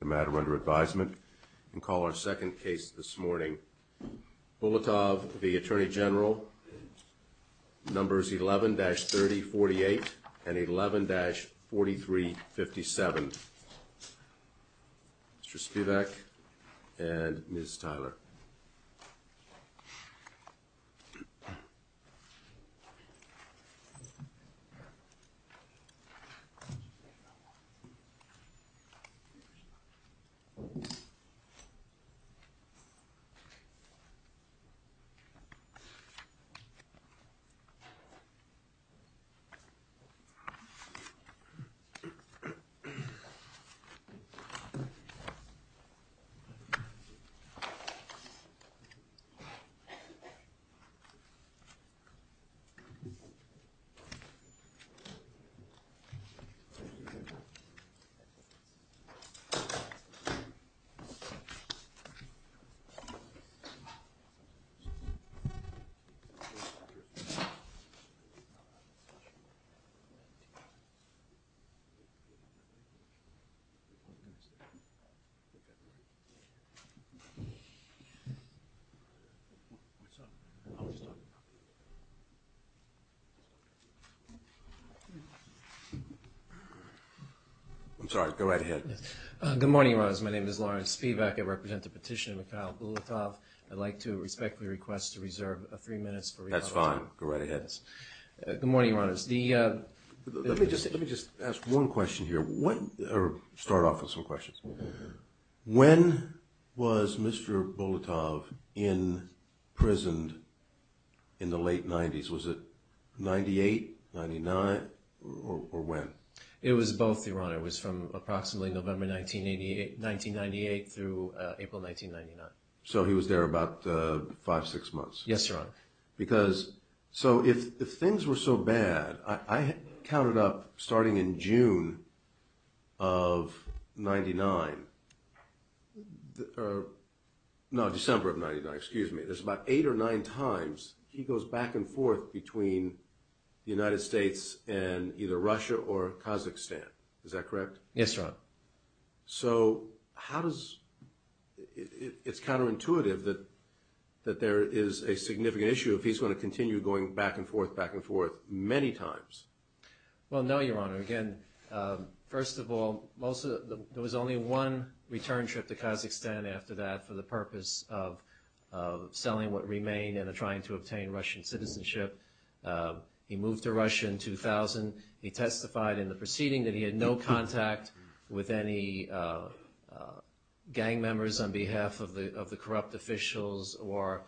the matter under advisement and call our second case this morning Bulatov v. Attorney General numbers 11-3048 and 11-4357. Mr. Spivak and Ms. Tyler. Good morning, Your Honors. My name is Lawrence Spivak. I represent the petition of Mikhail Bulatov. I'd like to respectfully request to reserve three minutes for recall time. That's fine. Go right ahead. Good morning, Your Honors. The Let me just ask one question here. Start off with some questions. When was Mr. Bulatov imprisoned in the late 90s? Was it 98, 99, or when? It was both, Your Honor. It was from approximately November 1998 through April 1999. So he was there about five, six months? Yes, Your Honor. Because, so if things were so bad, I counted up starting in June of 99, no, December of 99, excuse me, there's about eight or nine times he goes back and forth between the United States and either Russia or Kazakhstan. Is that correct? Yes, Your Honor. So how does – it's counterintuitive that there is a significant issue if he's going to continue going back and forth, back and forth many times. Well, no, Your Honor. Again, first of all, there was only one return trip to Kazakhstan after that for the purpose of selling what remained and trying to obtain Russian citizenship. He moved to Russia in 2000. He testified in the proceeding that he had no contact with any gang members on behalf of the corrupt officials or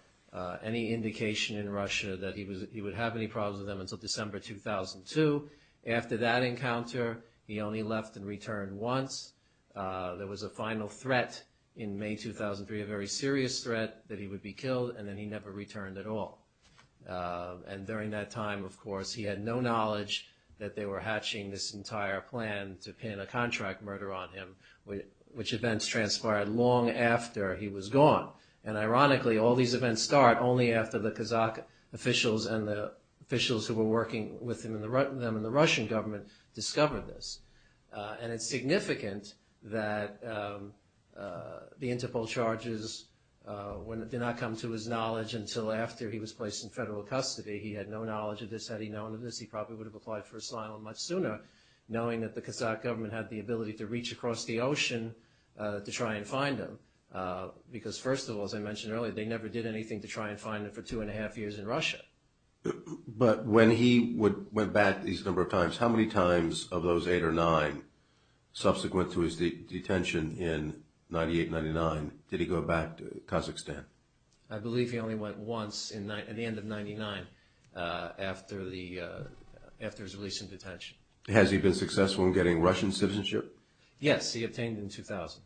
any indication in Russia that he was – he would have any problems with them until December 2002. After that encounter, he only left and returned once. There was a final threat in May 2003, a very serious threat, that he would be killed, and then he never returned at all. And during that time, of course, he had no knowledge that they were hatching this entire plan to pin a contract murder on him, which events transpired long after he was gone. And ironically, all these events start only after the Kazakh officials and the officials who were working with them in the Russian Government discovered this. And it's significant that the Interpol charges did not come to his knowledge until after he was placed in federal custody. He had no knowledge of this. Had he known of this, he probably would have applied for asylum much sooner, knowing that the Kazakh Government had the ability to reach across the ocean to try and find him. Because, first of all, as I mentioned earlier, they never did anything to try and find him for two and a half years in Russia. But when he went back these number of times, how many times of those eight or nine subsequent to his detention in 1998-99 did he go back to Kazakhstan? I believe he only went once at the end of 1999, after his release from detention. Has he been successful in getting Russian citizenship? Yes, he obtained it in 2000.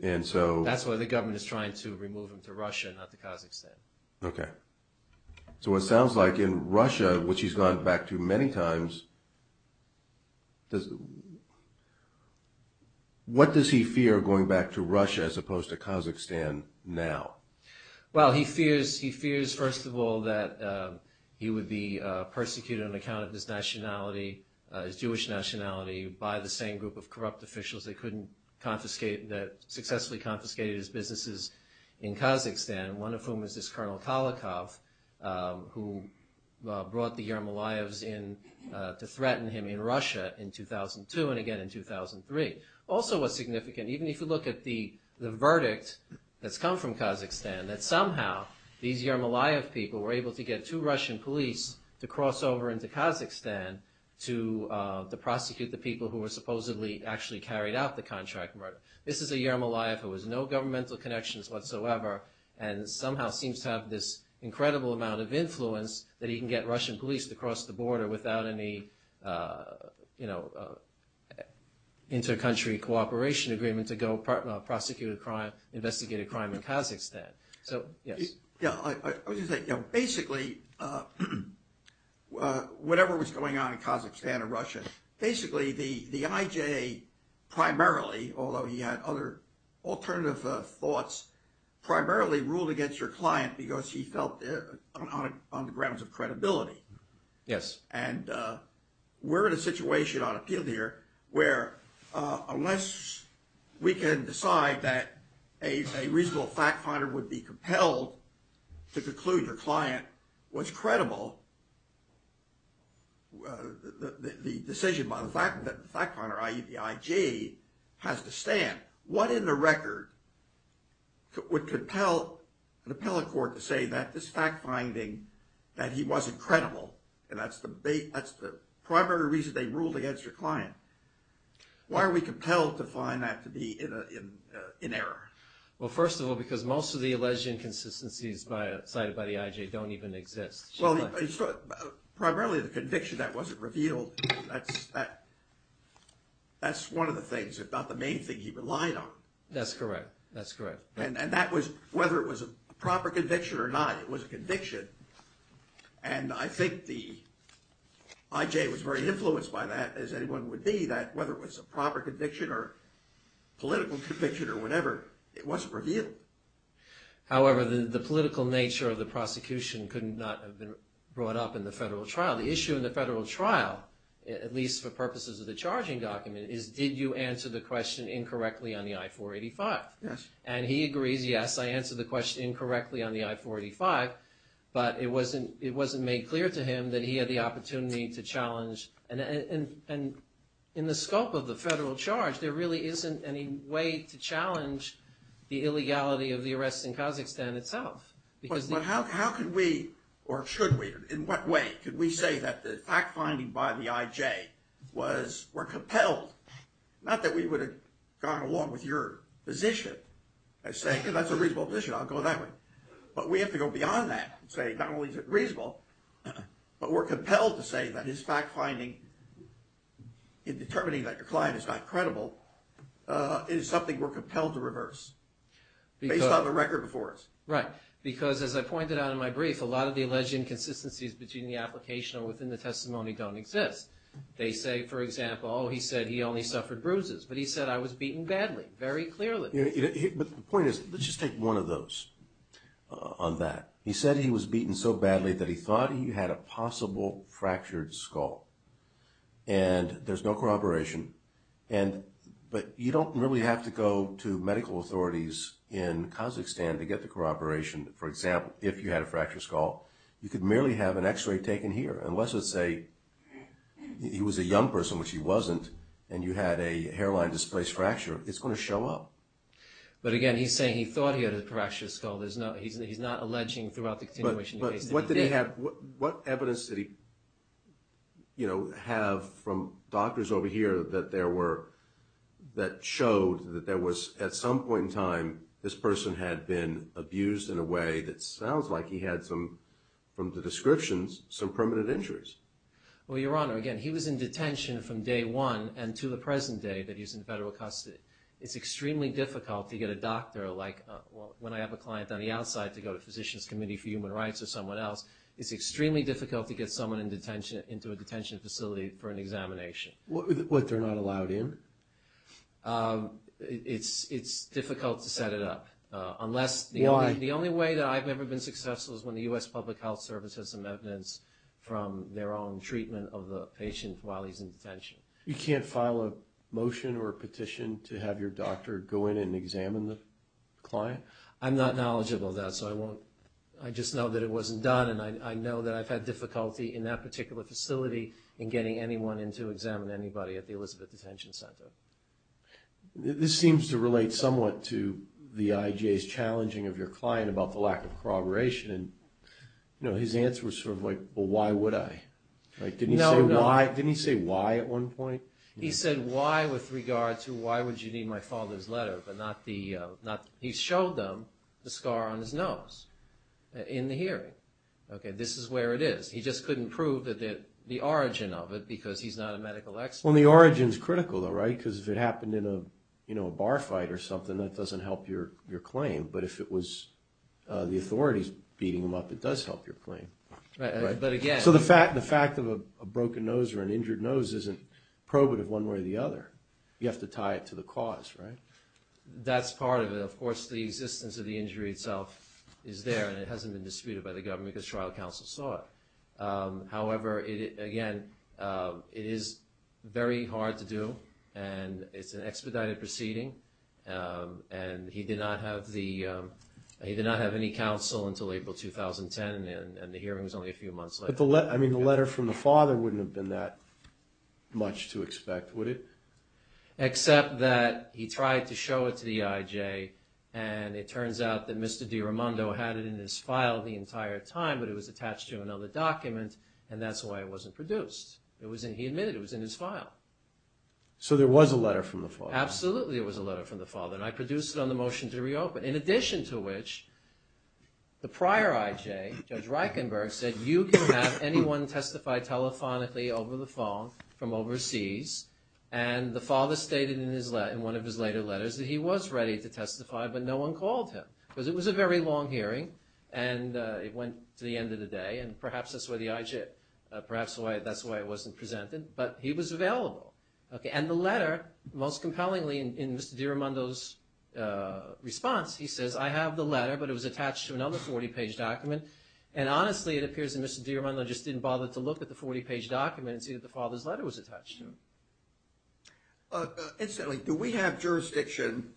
That's why the government is trying to remove him to Russia, not to Kazakhstan. Okay. So it sounds like in Russia, which he's gone back to many times, what does he fear going back to Russia as opposed to Kazakhstan now? Well, he fears, first of all, that he would be persecuted on account of his nationality, his Jewish nationality, by the same group of corrupt officials that successfully confiscated his businesses in Kazakhstan, one of whom is this Colonel Kalikov, who brought the Yermolayevs in to threaten him in Russia in 2002 and again in 2003. Also what's significant, even if you look at the verdict that's come from Kazakhstan, that somehow these Yermolayev people were able to get two Russian police to cross over into Kazakhstan to prosecute the people who were supposedly actually carried out the contract murder. This is a Yermolayev who has no governmental connections whatsoever and somehow seems to have this incredible amount of influence that he can get Russian police to cross the border without any inter-country cooperation agreement to go prosecute a crime, investigate a crime in Kazakhstan. So, yes. Yeah, I was going to say, basically, whatever was going on in Kazakhstan and Russia, basically the IJA primarily, although he had other alternative thoughts, primarily ruled against your client because he felt on the grounds of credibility. Yes. And we're in a situation on appeal here where unless we can decide that a reasonable fact finder would be compelled to conclude your client was credible, the decision by the fact finder, i.e. the IJA, has to stand. What in the record would compel an appellate court to say that this fact finding that he wasn't credible, and that's the primary reason they ruled against your client, why are we compelled to find that to be in error? Well, first of all, because most of the alleged inconsistencies cited by the IJA don't even exist. Well, primarily the conviction that wasn't revealed, that's one of the things, if not the main thing he relied on. That's correct. And that was, whether it was a proper conviction or not, it was a conviction. And I think the IJA was very influenced by that, as anyone would be, that whether it was a proper conviction or political conviction or whatever, it wasn't revealed. However, the political nature of the prosecution could not have been brought up in the federal trial. The issue in the federal trial, at least for purposes of the charging document, is did you answer the question incorrectly on the I-485? Yes. And he agrees, yes, I answered the question incorrectly on the I-485, but it wasn't made clear to him that he had the opportunity to challenge. And in the scope of the federal charge, there really isn't any way to challenge the illegality of the arrests in Kazakhstan itself. But how could we, or should we, in what way could we say that the fact-finding by the IJA was, were compelled, not that we would have gone along with your position, as saying, because that's a reasonable position, I'll go that way. But we have to go beyond that and say, not only is it reasonable, but we're compelled to say that his fact-finding in determining that your client is not credible is something we're compelled to reverse, based on the record before us. Right. Because, as I pointed out in my brief, a lot of the alleged inconsistencies between the application and within the testimony don't exist. They say, for example, oh, he said he only suffered bruises, but he said I was beaten badly, very clearly. But the point is, let's just take one of those on that. He said he was beaten so badly that he thought he had a possible fractured skull. And there's no corroboration. But you don't really have to go to medical authorities in Kazakhstan to get the corroboration. For example, if you had a fractured skull, you could merely have an x-ray taken here. And let's just say he was a young person, which he wasn't, and you had a hairline-displaced fracture, it's going to show up. But again, he's saying he thought he had a fractured skull. He's not alleging throughout the continuation of the case that he did. What evidence did he have from doctors over here that showed that there was, at some point in time, this person had been abused in a way that sounds like he had some, from the descriptions, some permanent injuries? Well, Your Honor, again, he was in detention from day one and to the present day that he's in federal custody. It's extremely difficult to get a doctor, like when I have a client on the outside to go to Physician's Committee for Human Rights or someone else, it's extremely difficult to get someone into a detention facility for an examination. What, they're not allowed in? It's difficult to set it up. Why? The only way that I've ever been successful is when the U.S. Public Health Service has some evidence from their own treatment of the patient while he's in detention. You can't file a motion or a petition to have your doctor go in and examine the client? I'm not knowledgeable of that, so I won't. I just know that it wasn't done, and I know that I've had difficulty in that particular facility in getting anyone in to examine anybody at the Elizabeth Detention Center. This seems to relate somewhat to the IJ's challenging of your client about the lack of corroboration. His answer was sort of like, well, why would I? Didn't he say why at one point? He said why with regard to why would you need my father's letter, but not the – he showed them the scar on his nose in the hearing. Okay, this is where it is. He just couldn't prove the origin of it because he's not a medical expert. Well, the origin's critical though, right, because if it happened in a bar fight or something, that doesn't help your claim. But if it was the authorities beating him up, it does help your claim. Right, but again – So the fact of a broken nose or an injured nose isn't probative one way or the other. You have to tie it to the cause, right? That's part of it. Of course, the existence of the injury itself is there, and it hasn't been disputed by the government because trial counsel saw it. However, again, it is very hard to do, and it's an expedited proceeding. And he did not have the – he did not have any counsel until April 2010, and the hearing was only a few months later. But the – I mean, the letter from the father wouldn't have been that much to expect, would it? Except that he tried to show it to the IJ, and it turns out that Mr. DiRamondo had it in his file the entire time, but it was attached to another document, and that's why it wasn't produced. It was in – he admitted it was in his file. So there was a letter from the father. Absolutely, it was a letter from the father, and I produced it on the motion to reopen, in addition to which the prior IJ, Judge Reichenberg, said, you can have anyone testify telephonically over the phone from overseas. And the father stated in one of his later letters that he was ready to testify, but no one called him because it was a very long hearing, and it went to the end of the day, and perhaps that's why the IJ – perhaps that's why it wasn't presented, but he was available. Okay. And the letter, most compellingly in Mr. DiRamondo's response, he says, I have the letter, but it was attached to another 40-page document, and honestly it appears that Mr. DiRamondo just didn't bother to look at the 40-page document and see that the father's letter was attached to it. Incidentally, do we have jurisdiction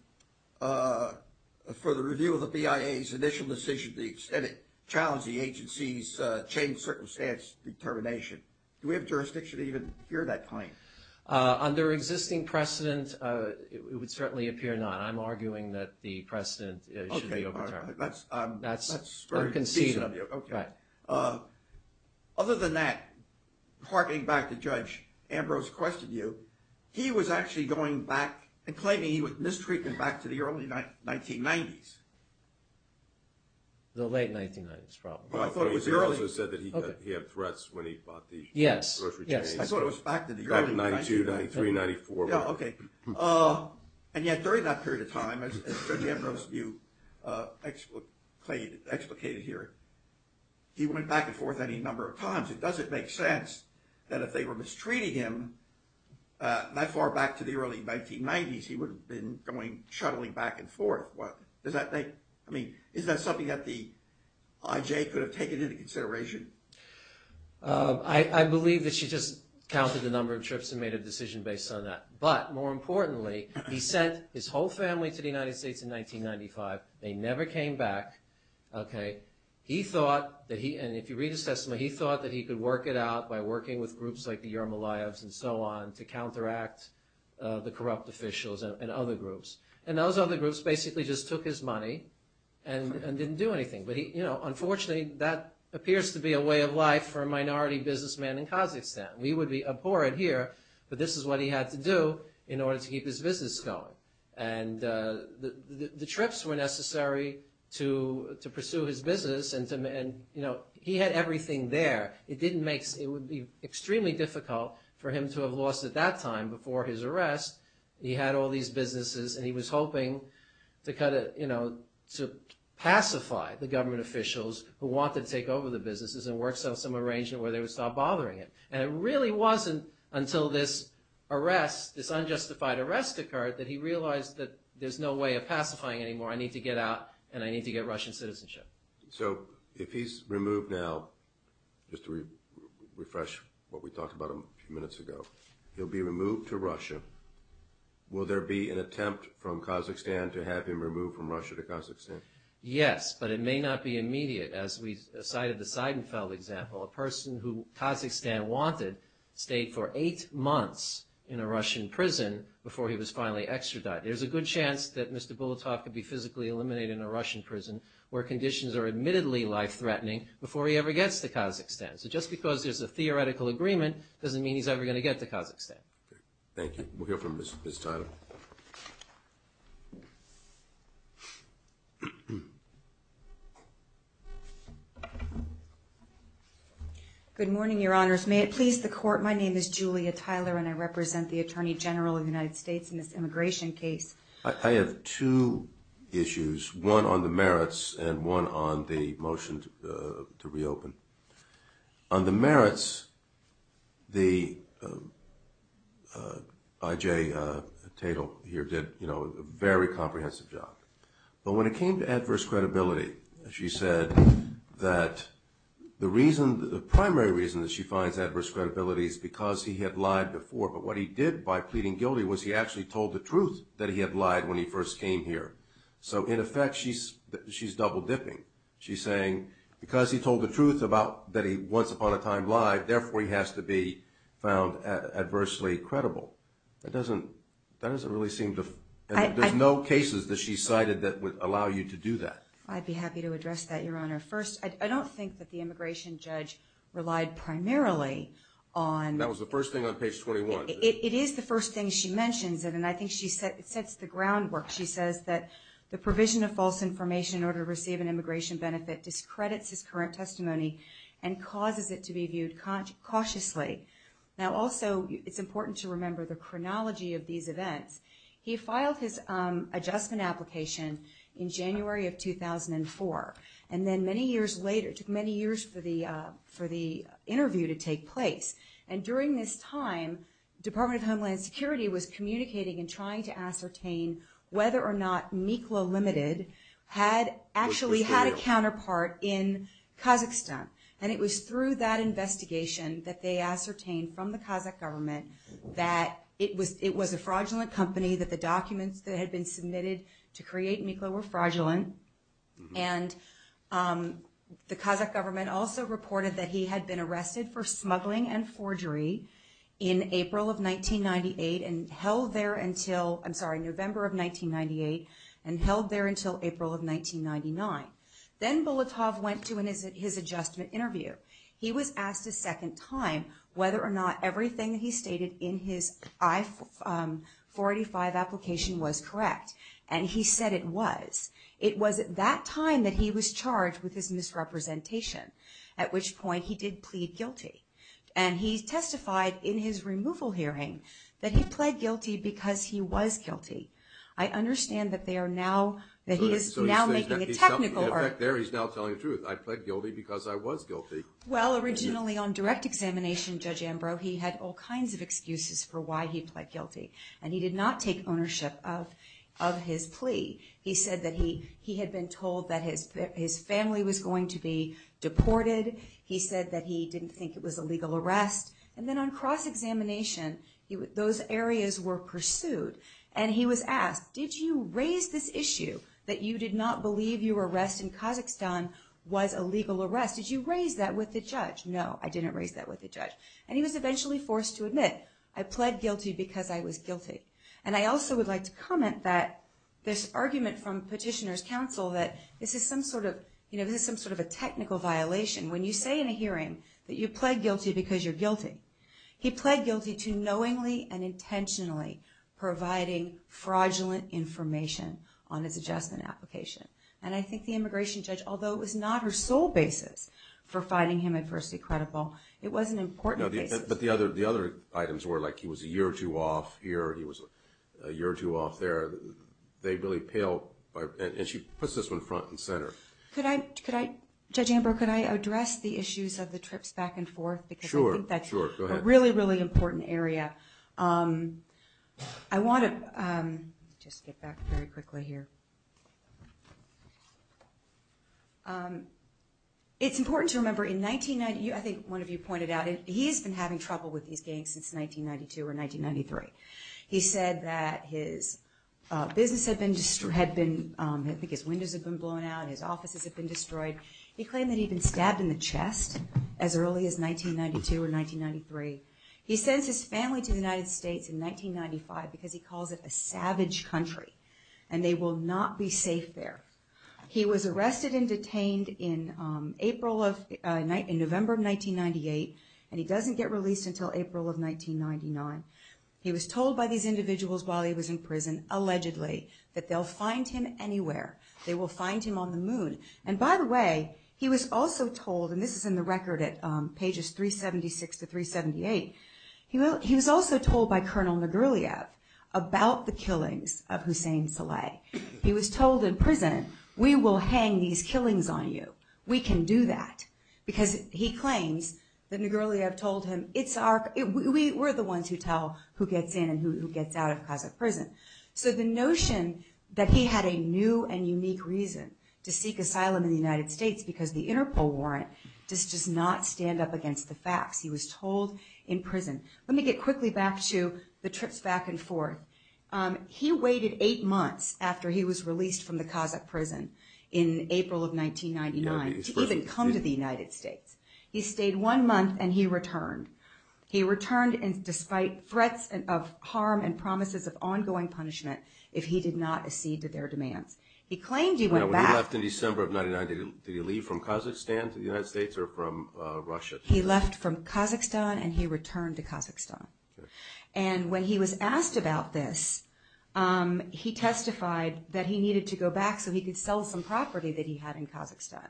for the review of the BIA's initial decision to extend it, challenge the agency's changed circumstance determination? Do we have jurisdiction to even hear that claim? Under existing precedent, it would certainly appear not. I'm arguing that the precedent should be overturned. That's very conceivable. Okay. Other than that, harking back to Judge Ambrose's question to you, he was actually going back and claiming he was mistreating back to the early 1990s. The late 1990s, probably. He also said that he had threats when he bought the grocery chain. Yes. I thought it was back to the early 1990s. Back in 92, 93, 94. Okay. And yet during that period of time, as Judge Ambrose, you explicated here, he went back and forth any number of times. It doesn't make sense that if they were mistreating him that far back to the early 1990s, he would have been going, shuttling back and forth. I mean, is that something that the IJ could have taken into consideration? I believe that she just counted the number of trips and made a decision based on that. But more importantly, he sent his whole family to the United States in 1995. They never came back. Okay. He thought that he, and if you read his testimony, he thought that he could work it out by working with groups like the Yermolayevs and so on to counteract the corrupt officials and other groups. And those other groups basically just took his money and didn't do anything. But unfortunately, that appears to be a way of life for a minority businessman in Kazakhstan. He would be abhorrent here, but this is what he had to do in order to keep his business going. And the trips were necessary to pursue his business, and he had everything there. It would be extremely difficult for him to have lost at that time before his arrest. He had all these businesses, and he was hoping to kind of, you know, to pacify the government officials who wanted to take over the businesses and work some arrangement where they would stop bothering him. And it really wasn't until this arrest, this unjustified arrest occurred, that he realized that there's no way of pacifying anymore. I need to get out, and I need to get Russian citizenship. So if he's removed now, just to refresh what we talked about a few minutes ago, he'll be removed to Russia. Will there be an attempt from Kazakhstan to have him removed from Russia to Kazakhstan? Yes, but it may not be immediate. As we cited the Seidenfeld example, a person who Kazakhstan wanted stayed for eight months in a Russian prison before he was finally extradited. There's a good chance that Mr. Bulatov could be physically eliminated in a Russian prison where conditions are admittedly life-threatening before he ever gets to Kazakhstan. So just because there's a theoretical agreement doesn't mean he's ever going to get to Kazakhstan. Thank you. We'll hear from Ms. Tyler. Good morning, Your Honors. May it please the Court, my name is Julia Tyler, and I represent the Attorney General of the United States in this immigration case. I have two issues, one on the merits and one on the motion to reopen. On the merits, the I.J. Tatel here did a very comprehensive job. But when it came to adverse credibility, she said that the primary reason that she finds adverse credibility is because he had lied before, but what he did by pleading guilty was he actually told the truth that he had lied when he first came here. So in effect, she's double-dipping. She's saying because he told the truth about that he once upon a time lied, therefore he has to be found adversely credible. That doesn't really seem to – there's no cases that she cited that would allow you to do that. I'd be happy to address that, Your Honor. First, I don't think that the immigration judge relied primarily on – That was the first thing on page 21. It is the first thing she mentions, and I think she sets the groundwork. She says that the provision of false information in order to receive an immigration benefit discredits his current testimony and causes it to be viewed cautiously. Also, it's important to remember the chronology of these events. He filed his adjustment application in January of 2004, and then many years later, it took many years for the interview to take place. And during this time, Department of Homeland Security was communicating and trying to ascertain whether or not Miklo Limited had actually had a counterpart in Kazakhstan. And it was through that investigation that they ascertained from the Kazakh government that it was a fraudulent company, that the documents that had been submitted to create Miklo were fraudulent. And the Kazakh government also reported that he had been arrested for smuggling and forgery in April of 1998 and held there until – I'm sorry, November of 1998, and held there until April of 1999. Then Bulatov went to his adjustment interview. He was asked a second time whether or not everything that he stated in his I-485 application was correct. And he said it was. It was at that time that he was charged with his misrepresentation, at which point he did plead guilty. And he testified in his removal hearing that he pled guilty because he was guilty. I understand that they are now – that he is now making a technical – In fact, there he's now telling the truth. I pled guilty because I was guilty. Well, originally on direct examination, Judge Ambrose, he had all kinds of excuses for why he pled guilty. And he did not take ownership of his plea. He said that he had been told that his family was going to be deported. He said that he didn't think it was a legal arrest. And then on cross-examination, those areas were pursued. And he was asked, did you raise this issue that you did not believe your arrest in Kazakhstan was a legal arrest? Did you raise that with the judge? No, I didn't raise that with the judge. And he was eventually forced to admit, I pled guilty because I was guilty. And I also would like to comment that this argument from petitioners' counsel that this is some sort of – you know, this is some sort of a technical violation. When you say in a hearing that you pled guilty because you're guilty, he pled guilty to knowingly and intentionally providing fraudulent information on his adjustment application. And I think the immigration judge, although it was not her sole basis for finding him adversely credible, it was an important basis. But the other items were like he was a year or two off here, he was a year or two off there. They really pale – and she puts this one front and center. Could I – Judge Amber, could I address the issues of the trips back and forth? Sure, sure. Because I think that's a really, really important area. I want to – let me just get back very quickly here. It's important to remember in – I think one of you pointed out, he's been having trouble with these gangs since 1992 or 1993. He said that his business had been – I think his windows had been blown out, his offices had been destroyed. He claimed that he'd been stabbed in the chest as early as 1992 or 1993. He sends his family to the United States in 1995 because he calls it a savage country and they will not be safe there. He was arrested and detained in April of – in November of 1998, and he doesn't get released until April of 1999. He was told by these individuals while he was in prison, allegedly, that they'll find him anywhere. They will find him on the moon. And by the way, he was also told – and this is in the record at pages 376 to 378 – he was also told by Colonel Nagurliev about the killings of Hussein Saleh. He was told in prison, we will hang these killings on you. We can do that because he claims that Nagurliev told him it's our – we're the ones who tell who gets in and who gets out of Kazakh prison. So the notion that he had a new and unique reason to seek asylum in the United States because the Interpol warrant does not stand up against the facts. He was told in prison. Let me get quickly back to the trips back and forth. He waited eight months after he was released from the Kazakh prison in April of 1999 to even come to the United States. He stayed one month and he returned. He returned despite threats of harm and promises of ongoing punishment if he did not accede to their demands. He claimed he went back. Now, when he left in December of 1999, did he leave from Kazakhstan to the United States or from Russia? He left from Kazakhstan and he returned to Kazakhstan. And when he was asked about this, he testified that he needed to go back so he could sell some property that he had in Kazakhstan.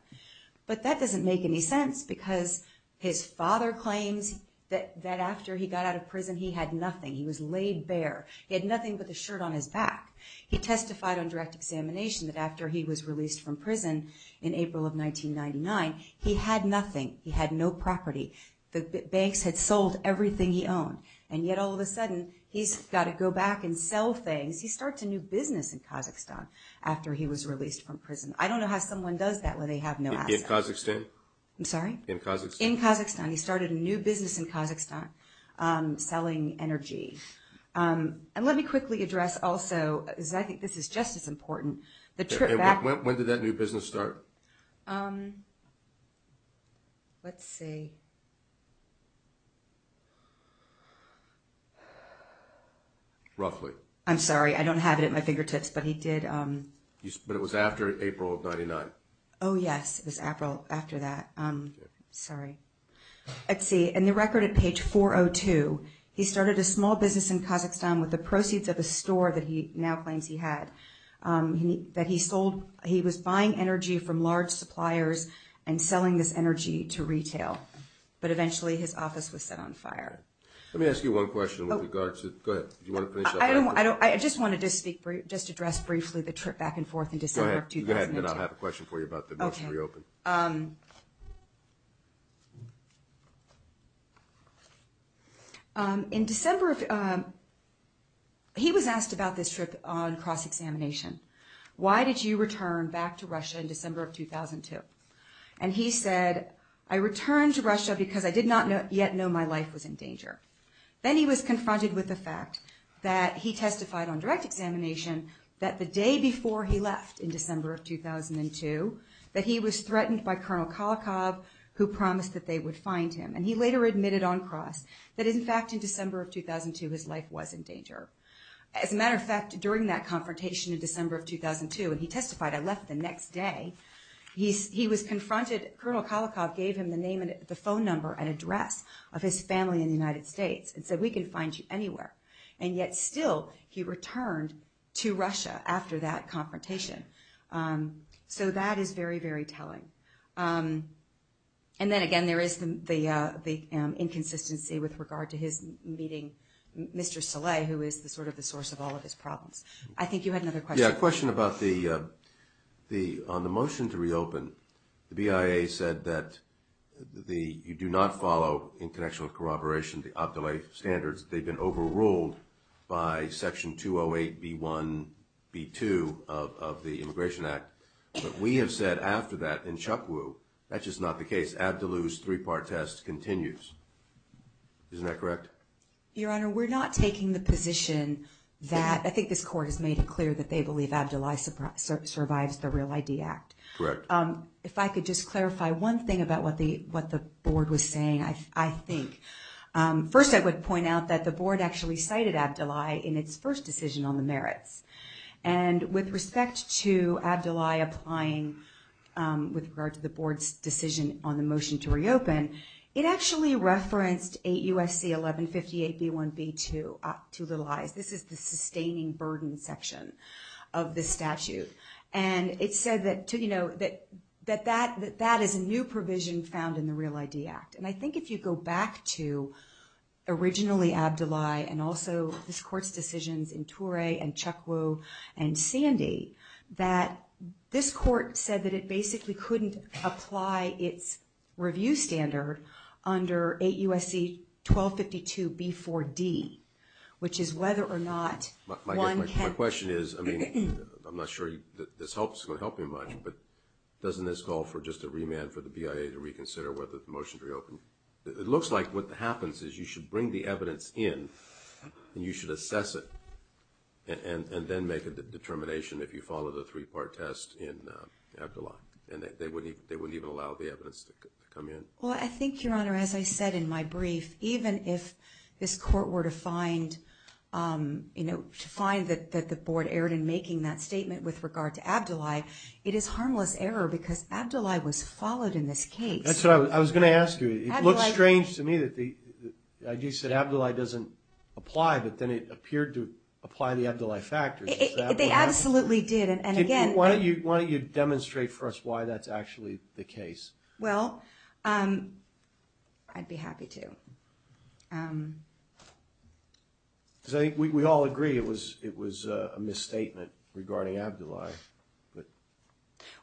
But that doesn't make any sense because his father claims that after he got out of prison, he had nothing. He was laid bare. He had nothing but the shirt on his back. He testified on direct examination that after he was released from prison in April of 1999, he had nothing. He had no property. The banks had sold everything he owned. And yet, all of a sudden, he's got to go back and sell things. He starts a new business in Kazakhstan after he was released from prison. I don't know how someone does that when they have no assets. In Kazakhstan? I'm sorry? In Kazakhstan. In Kazakhstan. He started a new business in Kazakhstan selling energy. And let me quickly address also, because I think this is just as important. When did that new business start? Let's see. Roughly. I'm sorry. I don't have it at my fingertips, but he did. But it was after April of 1999. Oh, yes. It was April after that. Sorry. Let's see. In the record at page 402, he started a small business in Kazakhstan with the proceeds of a store that he now claims he had. He was buying energy from large suppliers and selling this energy to retail. But eventually, his office was set on fire. Let me ask you one question with regard to – go ahead. Do you want to finish up? I just wanted to address briefly the trip back and forth in December of 2002. Go ahead, and then I'll have a question for you about the motion to reopen. Okay. In December of – he was asked about this trip on cross-examination. Why did you return back to Russia in December of 2002? And he said, I returned to Russia because I did not yet know my life was in danger. Then he was confronted with the fact that he testified on direct examination that the day before he left in December of 2002, that he was threatened by Colonel Kolokov, who promised that they would find him. And he later admitted on cross that, in fact, in December of 2002, his life was in danger. As a matter of fact, during that confrontation in December of 2002, he testified, I left the next day. He was confronted – Colonel Kolokov gave him the name and the phone number and address of his family in the United States and said, we can find you anywhere. And yet still, he returned to Russia after that confrontation. So that is very, very telling. And then again, there is the inconsistency with regard to his meeting Mr. Saleh, who is sort of the source of all of his problems. I think you had another question. Yeah, a question about the – on the motion to reopen, the BIA said that the – you do not follow international corroboration, the ABDILAI standards. They've been overruled by Section 208B1B2 of the Immigration Act. But we have said after that in Chukwu, that's just not the case. ABDILAI's three-part test continues. Isn't that correct? Your Honor, we're not taking the position that – I think this Court has made it clear that they believe ABDILAI survives the REAL ID Act. Correct. If I could just clarify one thing about what the Board was saying, I think. First, I would point out that the Board actually cited ABDILAI in its first decision on the merits. And with respect to ABDILAI applying with regard to the Board's decision on the motion to reopen, it actually referenced 8 U.S.C. 1158B1B2, two little I's. This is the sustaining burden section of the statute. And it said that that is a new provision found in the REAL ID Act. And I think if you go back to originally ABDILAI and also this Court's decisions in Toure and Chukwu and Sandy, that this Court said that it basically couldn't apply its review standard under 8 U.S.C. 1252B4D, which is whether or not one can – My question is, I mean, I'm not sure this is going to help me much, but doesn't this call for just a remand for the BIA to reconsider whether the motion to reopen – It looks like what happens is you should bring the evidence in and you should assess it and then make a determination if you follow the three-part test in ABDILAI. And they wouldn't even allow the evidence to come in. Well, I think, Your Honor, as I said in my brief, even if this Court were to find that the Board erred in making that statement with regard to ABDILAI, it is harmless error because ABDILAI was followed in this case. That's what I was going to ask you. It looks strange to me that you said ABDILAI doesn't apply, but then it appeared to apply the ABDILAI factors. They absolutely did, and again – Why don't you demonstrate for us why that's actually the case? Well, I'd be happy to. Because I think we all agree it was a misstatement regarding ABDILAI.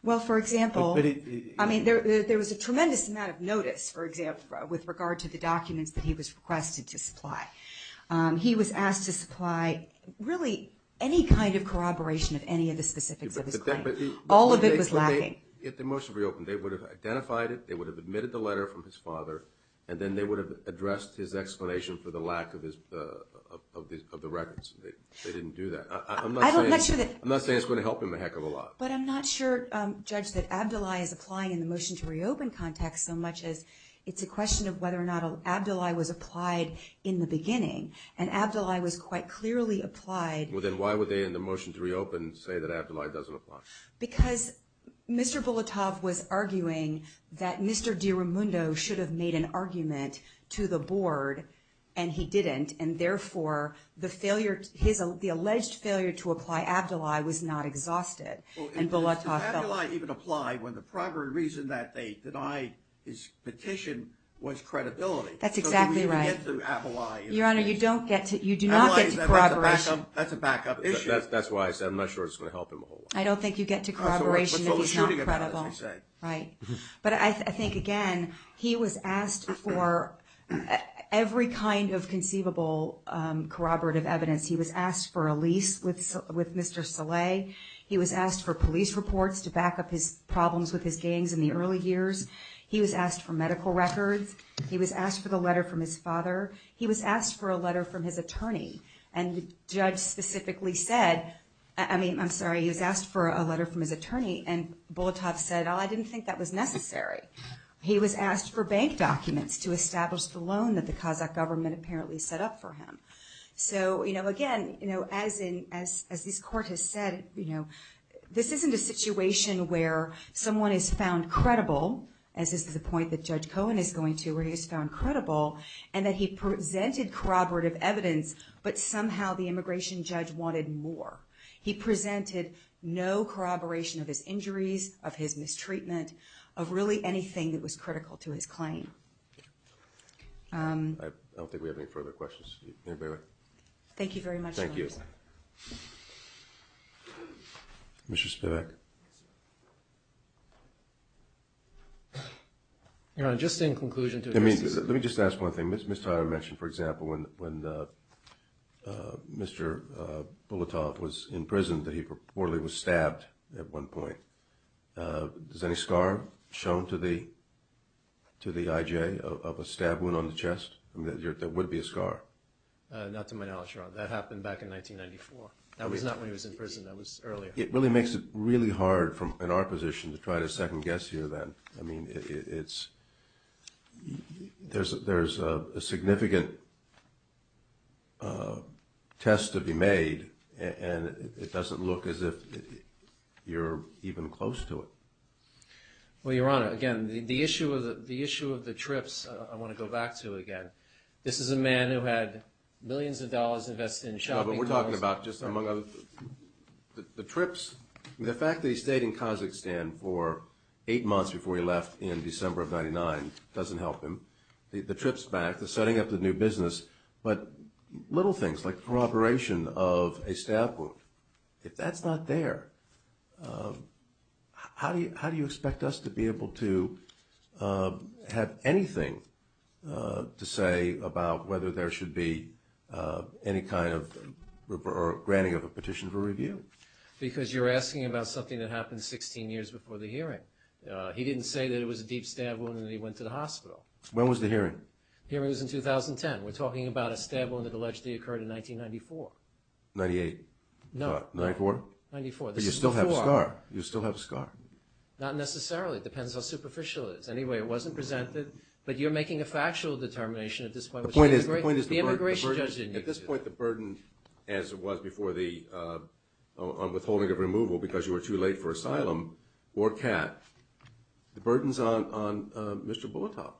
Well, for example, I mean, there was a tremendous amount of notice, for example, with regard to the documents that he was requested to supply. He was asked to supply really any kind of corroboration of any of the specifics of his claim. All of it was lacking. If the motion were reopened, they would have identified it, they would have admitted the letter from his father, and then they would have addressed his explanation for the lack of the records. They didn't do that. I'm not saying it's going to help him a heck of a lot. But I'm not sure, Judge, that ABDILAI is applying in the motion to reopen context so much as it's a question of whether or not ABDILAI was applied in the beginning, and ABDILAI was quite clearly applied. Well, then why would they, in the motion to reopen, say that ABDILAI doesn't apply? Because Mr. Bulatov was arguing that Mr. DiRamundo should have made an argument to the board, and he didn't, and therefore the alleged failure to apply ABDILAI was not exhausted. Does ABDILAI even apply when the primary reason that they denied his petition was credibility? That's exactly right. So do we even get to ABDILAI? Your Honor, you do not get to corroboration. ABDILAI, that's a backup issue. That's why I said I'm not sure it's going to help him a whole lot. I don't think you get to corroboration if he's not credible. Right. Right. But I think, again, he was asked for every kind of conceivable corroborative evidence. He was asked for a lease with Mr. Saleh. He was asked for police reports to back up his problems with his gangs in the early years. He was asked for medical records. He was asked for the letter from his father. He was asked for a letter from his attorney, and the judge specifically said, I mean, I'm sorry, he was asked for a letter from his attorney, and Bulatov said, oh, I didn't think that was necessary. He was asked for bank documents to establish the loan that the Kazakh government apparently set up for him. So, again, as this Court has said, this isn't a situation where someone is found credible, as is the point that Judge Cohen is going to, where he is found credible, and that he presented corroborative evidence, but somehow the immigration judge wanted more. He presented no corroboration of his injuries, of his mistreatment, of really anything that was critical to his claim. I don't think we have any further questions. Thank you very much, Your Honor. Thank you. Mr. Spivak. Your Honor, just in conclusion to the case. Let me just ask one thing. Ms. Tyra mentioned, for example, when Mr. Bulatov was in prison, that he reportedly was stabbed at one point. Is any scar shown to the IJ of a stab wound on the chest? There would be a scar. Not to my knowledge, Your Honor. That happened back in 1994. That was not when he was in prison. That was earlier. It really makes it really hard in our position to try to second-guess here, then. I mean, there's a significant test to be made, and it doesn't look as if you're even close to it. Well, Your Honor, again, the issue of the trips I want to go back to again. This is a man who had millions of dollars invested in shopping calls. No, but we're talking about just among the trips. The fact that he stayed in Kazakhstan for eight months before he left in December of 1999 doesn't help him. The trips back, the setting up the new business, but little things like the corroboration of a stab wound. If that's not there, how do you expect us to be able to have anything to say about whether there should be any kind of granting of a petition for review? Because you're asking about something that happened 16 years before the hearing. He didn't say that it was a deep stab wound and that he went to the hospital. When was the hearing? The hearing was in 2010. We're talking about a stab wound that allegedly occurred in 1994. Ninety-eight? No. Ninety-four? Ninety-four. But you still have a scar. You still have a scar. Not necessarily. It depends how superficial it is. Anyway, it wasn't presented, but you're making a factual determination at this point. The point is the burden. The immigration judge didn't use it. At this point, the burden, as it was before the withholding of removal because you were too late for asylum or CAT, the burden's on Mr. Bulatov.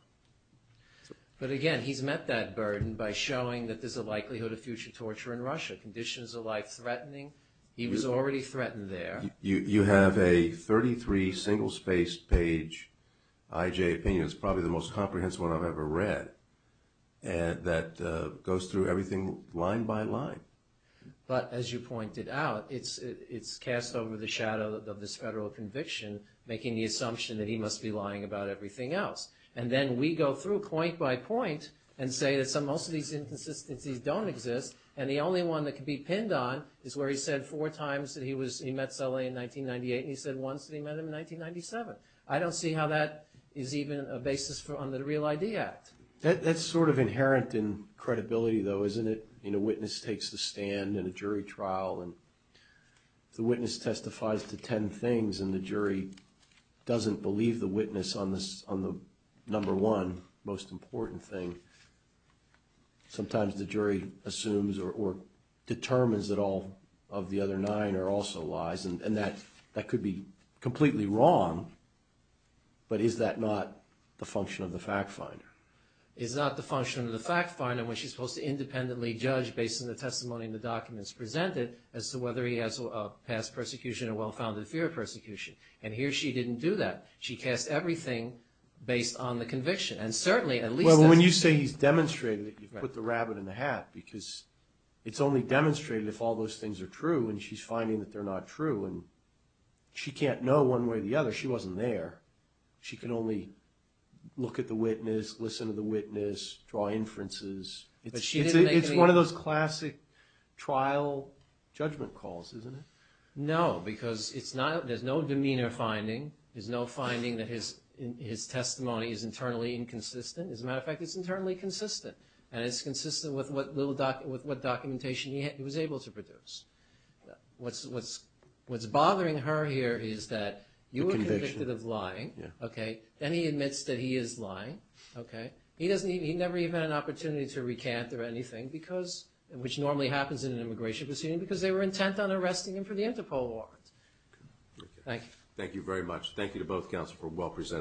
But again, he's met that burden by showing that there's a likelihood of future torture in Russia, conditions of life threatening. He was already threatened there. You have a 33 single-spaced page IJ opinion. It's probably the most comprehensive one I've ever read that goes through everything line by line. But as you pointed out, it's cast over the shadow of this federal conviction, making the assumption that he must be lying about everything else. And then we go through point by point and say that most of these inconsistencies don't exist, and the only one that can be pinned on is where he said four times that he met Sully in 1998, and he said once that he met him in 1997. I don't see how that is even a basis under the Real ID Act. That's sort of inherent in credibility, though, isn't it? You know, a witness takes a stand in a jury trial, and the witness testifies to ten things, and the jury doesn't believe the witness on the number one most important thing. Sometimes the jury assumes or determines that all of the other nine are also lies, and that could be completely wrong, but is that not the function of the fact finder? It's not the function of the fact finder when she's supposed to independently judge based on the testimony and the documents presented as to whether he has a past persecution or well-founded fear of persecution. And here she didn't do that. She cast everything based on the conviction, and certainly at least that's true. Well, when you say he's demonstrated it, you've put the rabbit in the hat because it's only demonstrated if all those things are true, and she's finding that they're not true, and she can't know one way or the other. She wasn't there. She can only look at the witness, listen to the witness, draw inferences. It's one of those classic trial judgment calls, isn't it? No, because there's no demeanor finding. There's no finding that his testimony is internally inconsistent. As a matter of fact, it's internally consistent, and it's consistent with what documentation he was able to produce. What's bothering her here is that you were convicted of lying, and he admits that he is lying. He never even had an opportunity to recant or anything, which normally happens in an immigration proceeding, because they were intent on arresting him for the Interpol warrants. Thank you. Thank you to both counsel for a well-presented argument.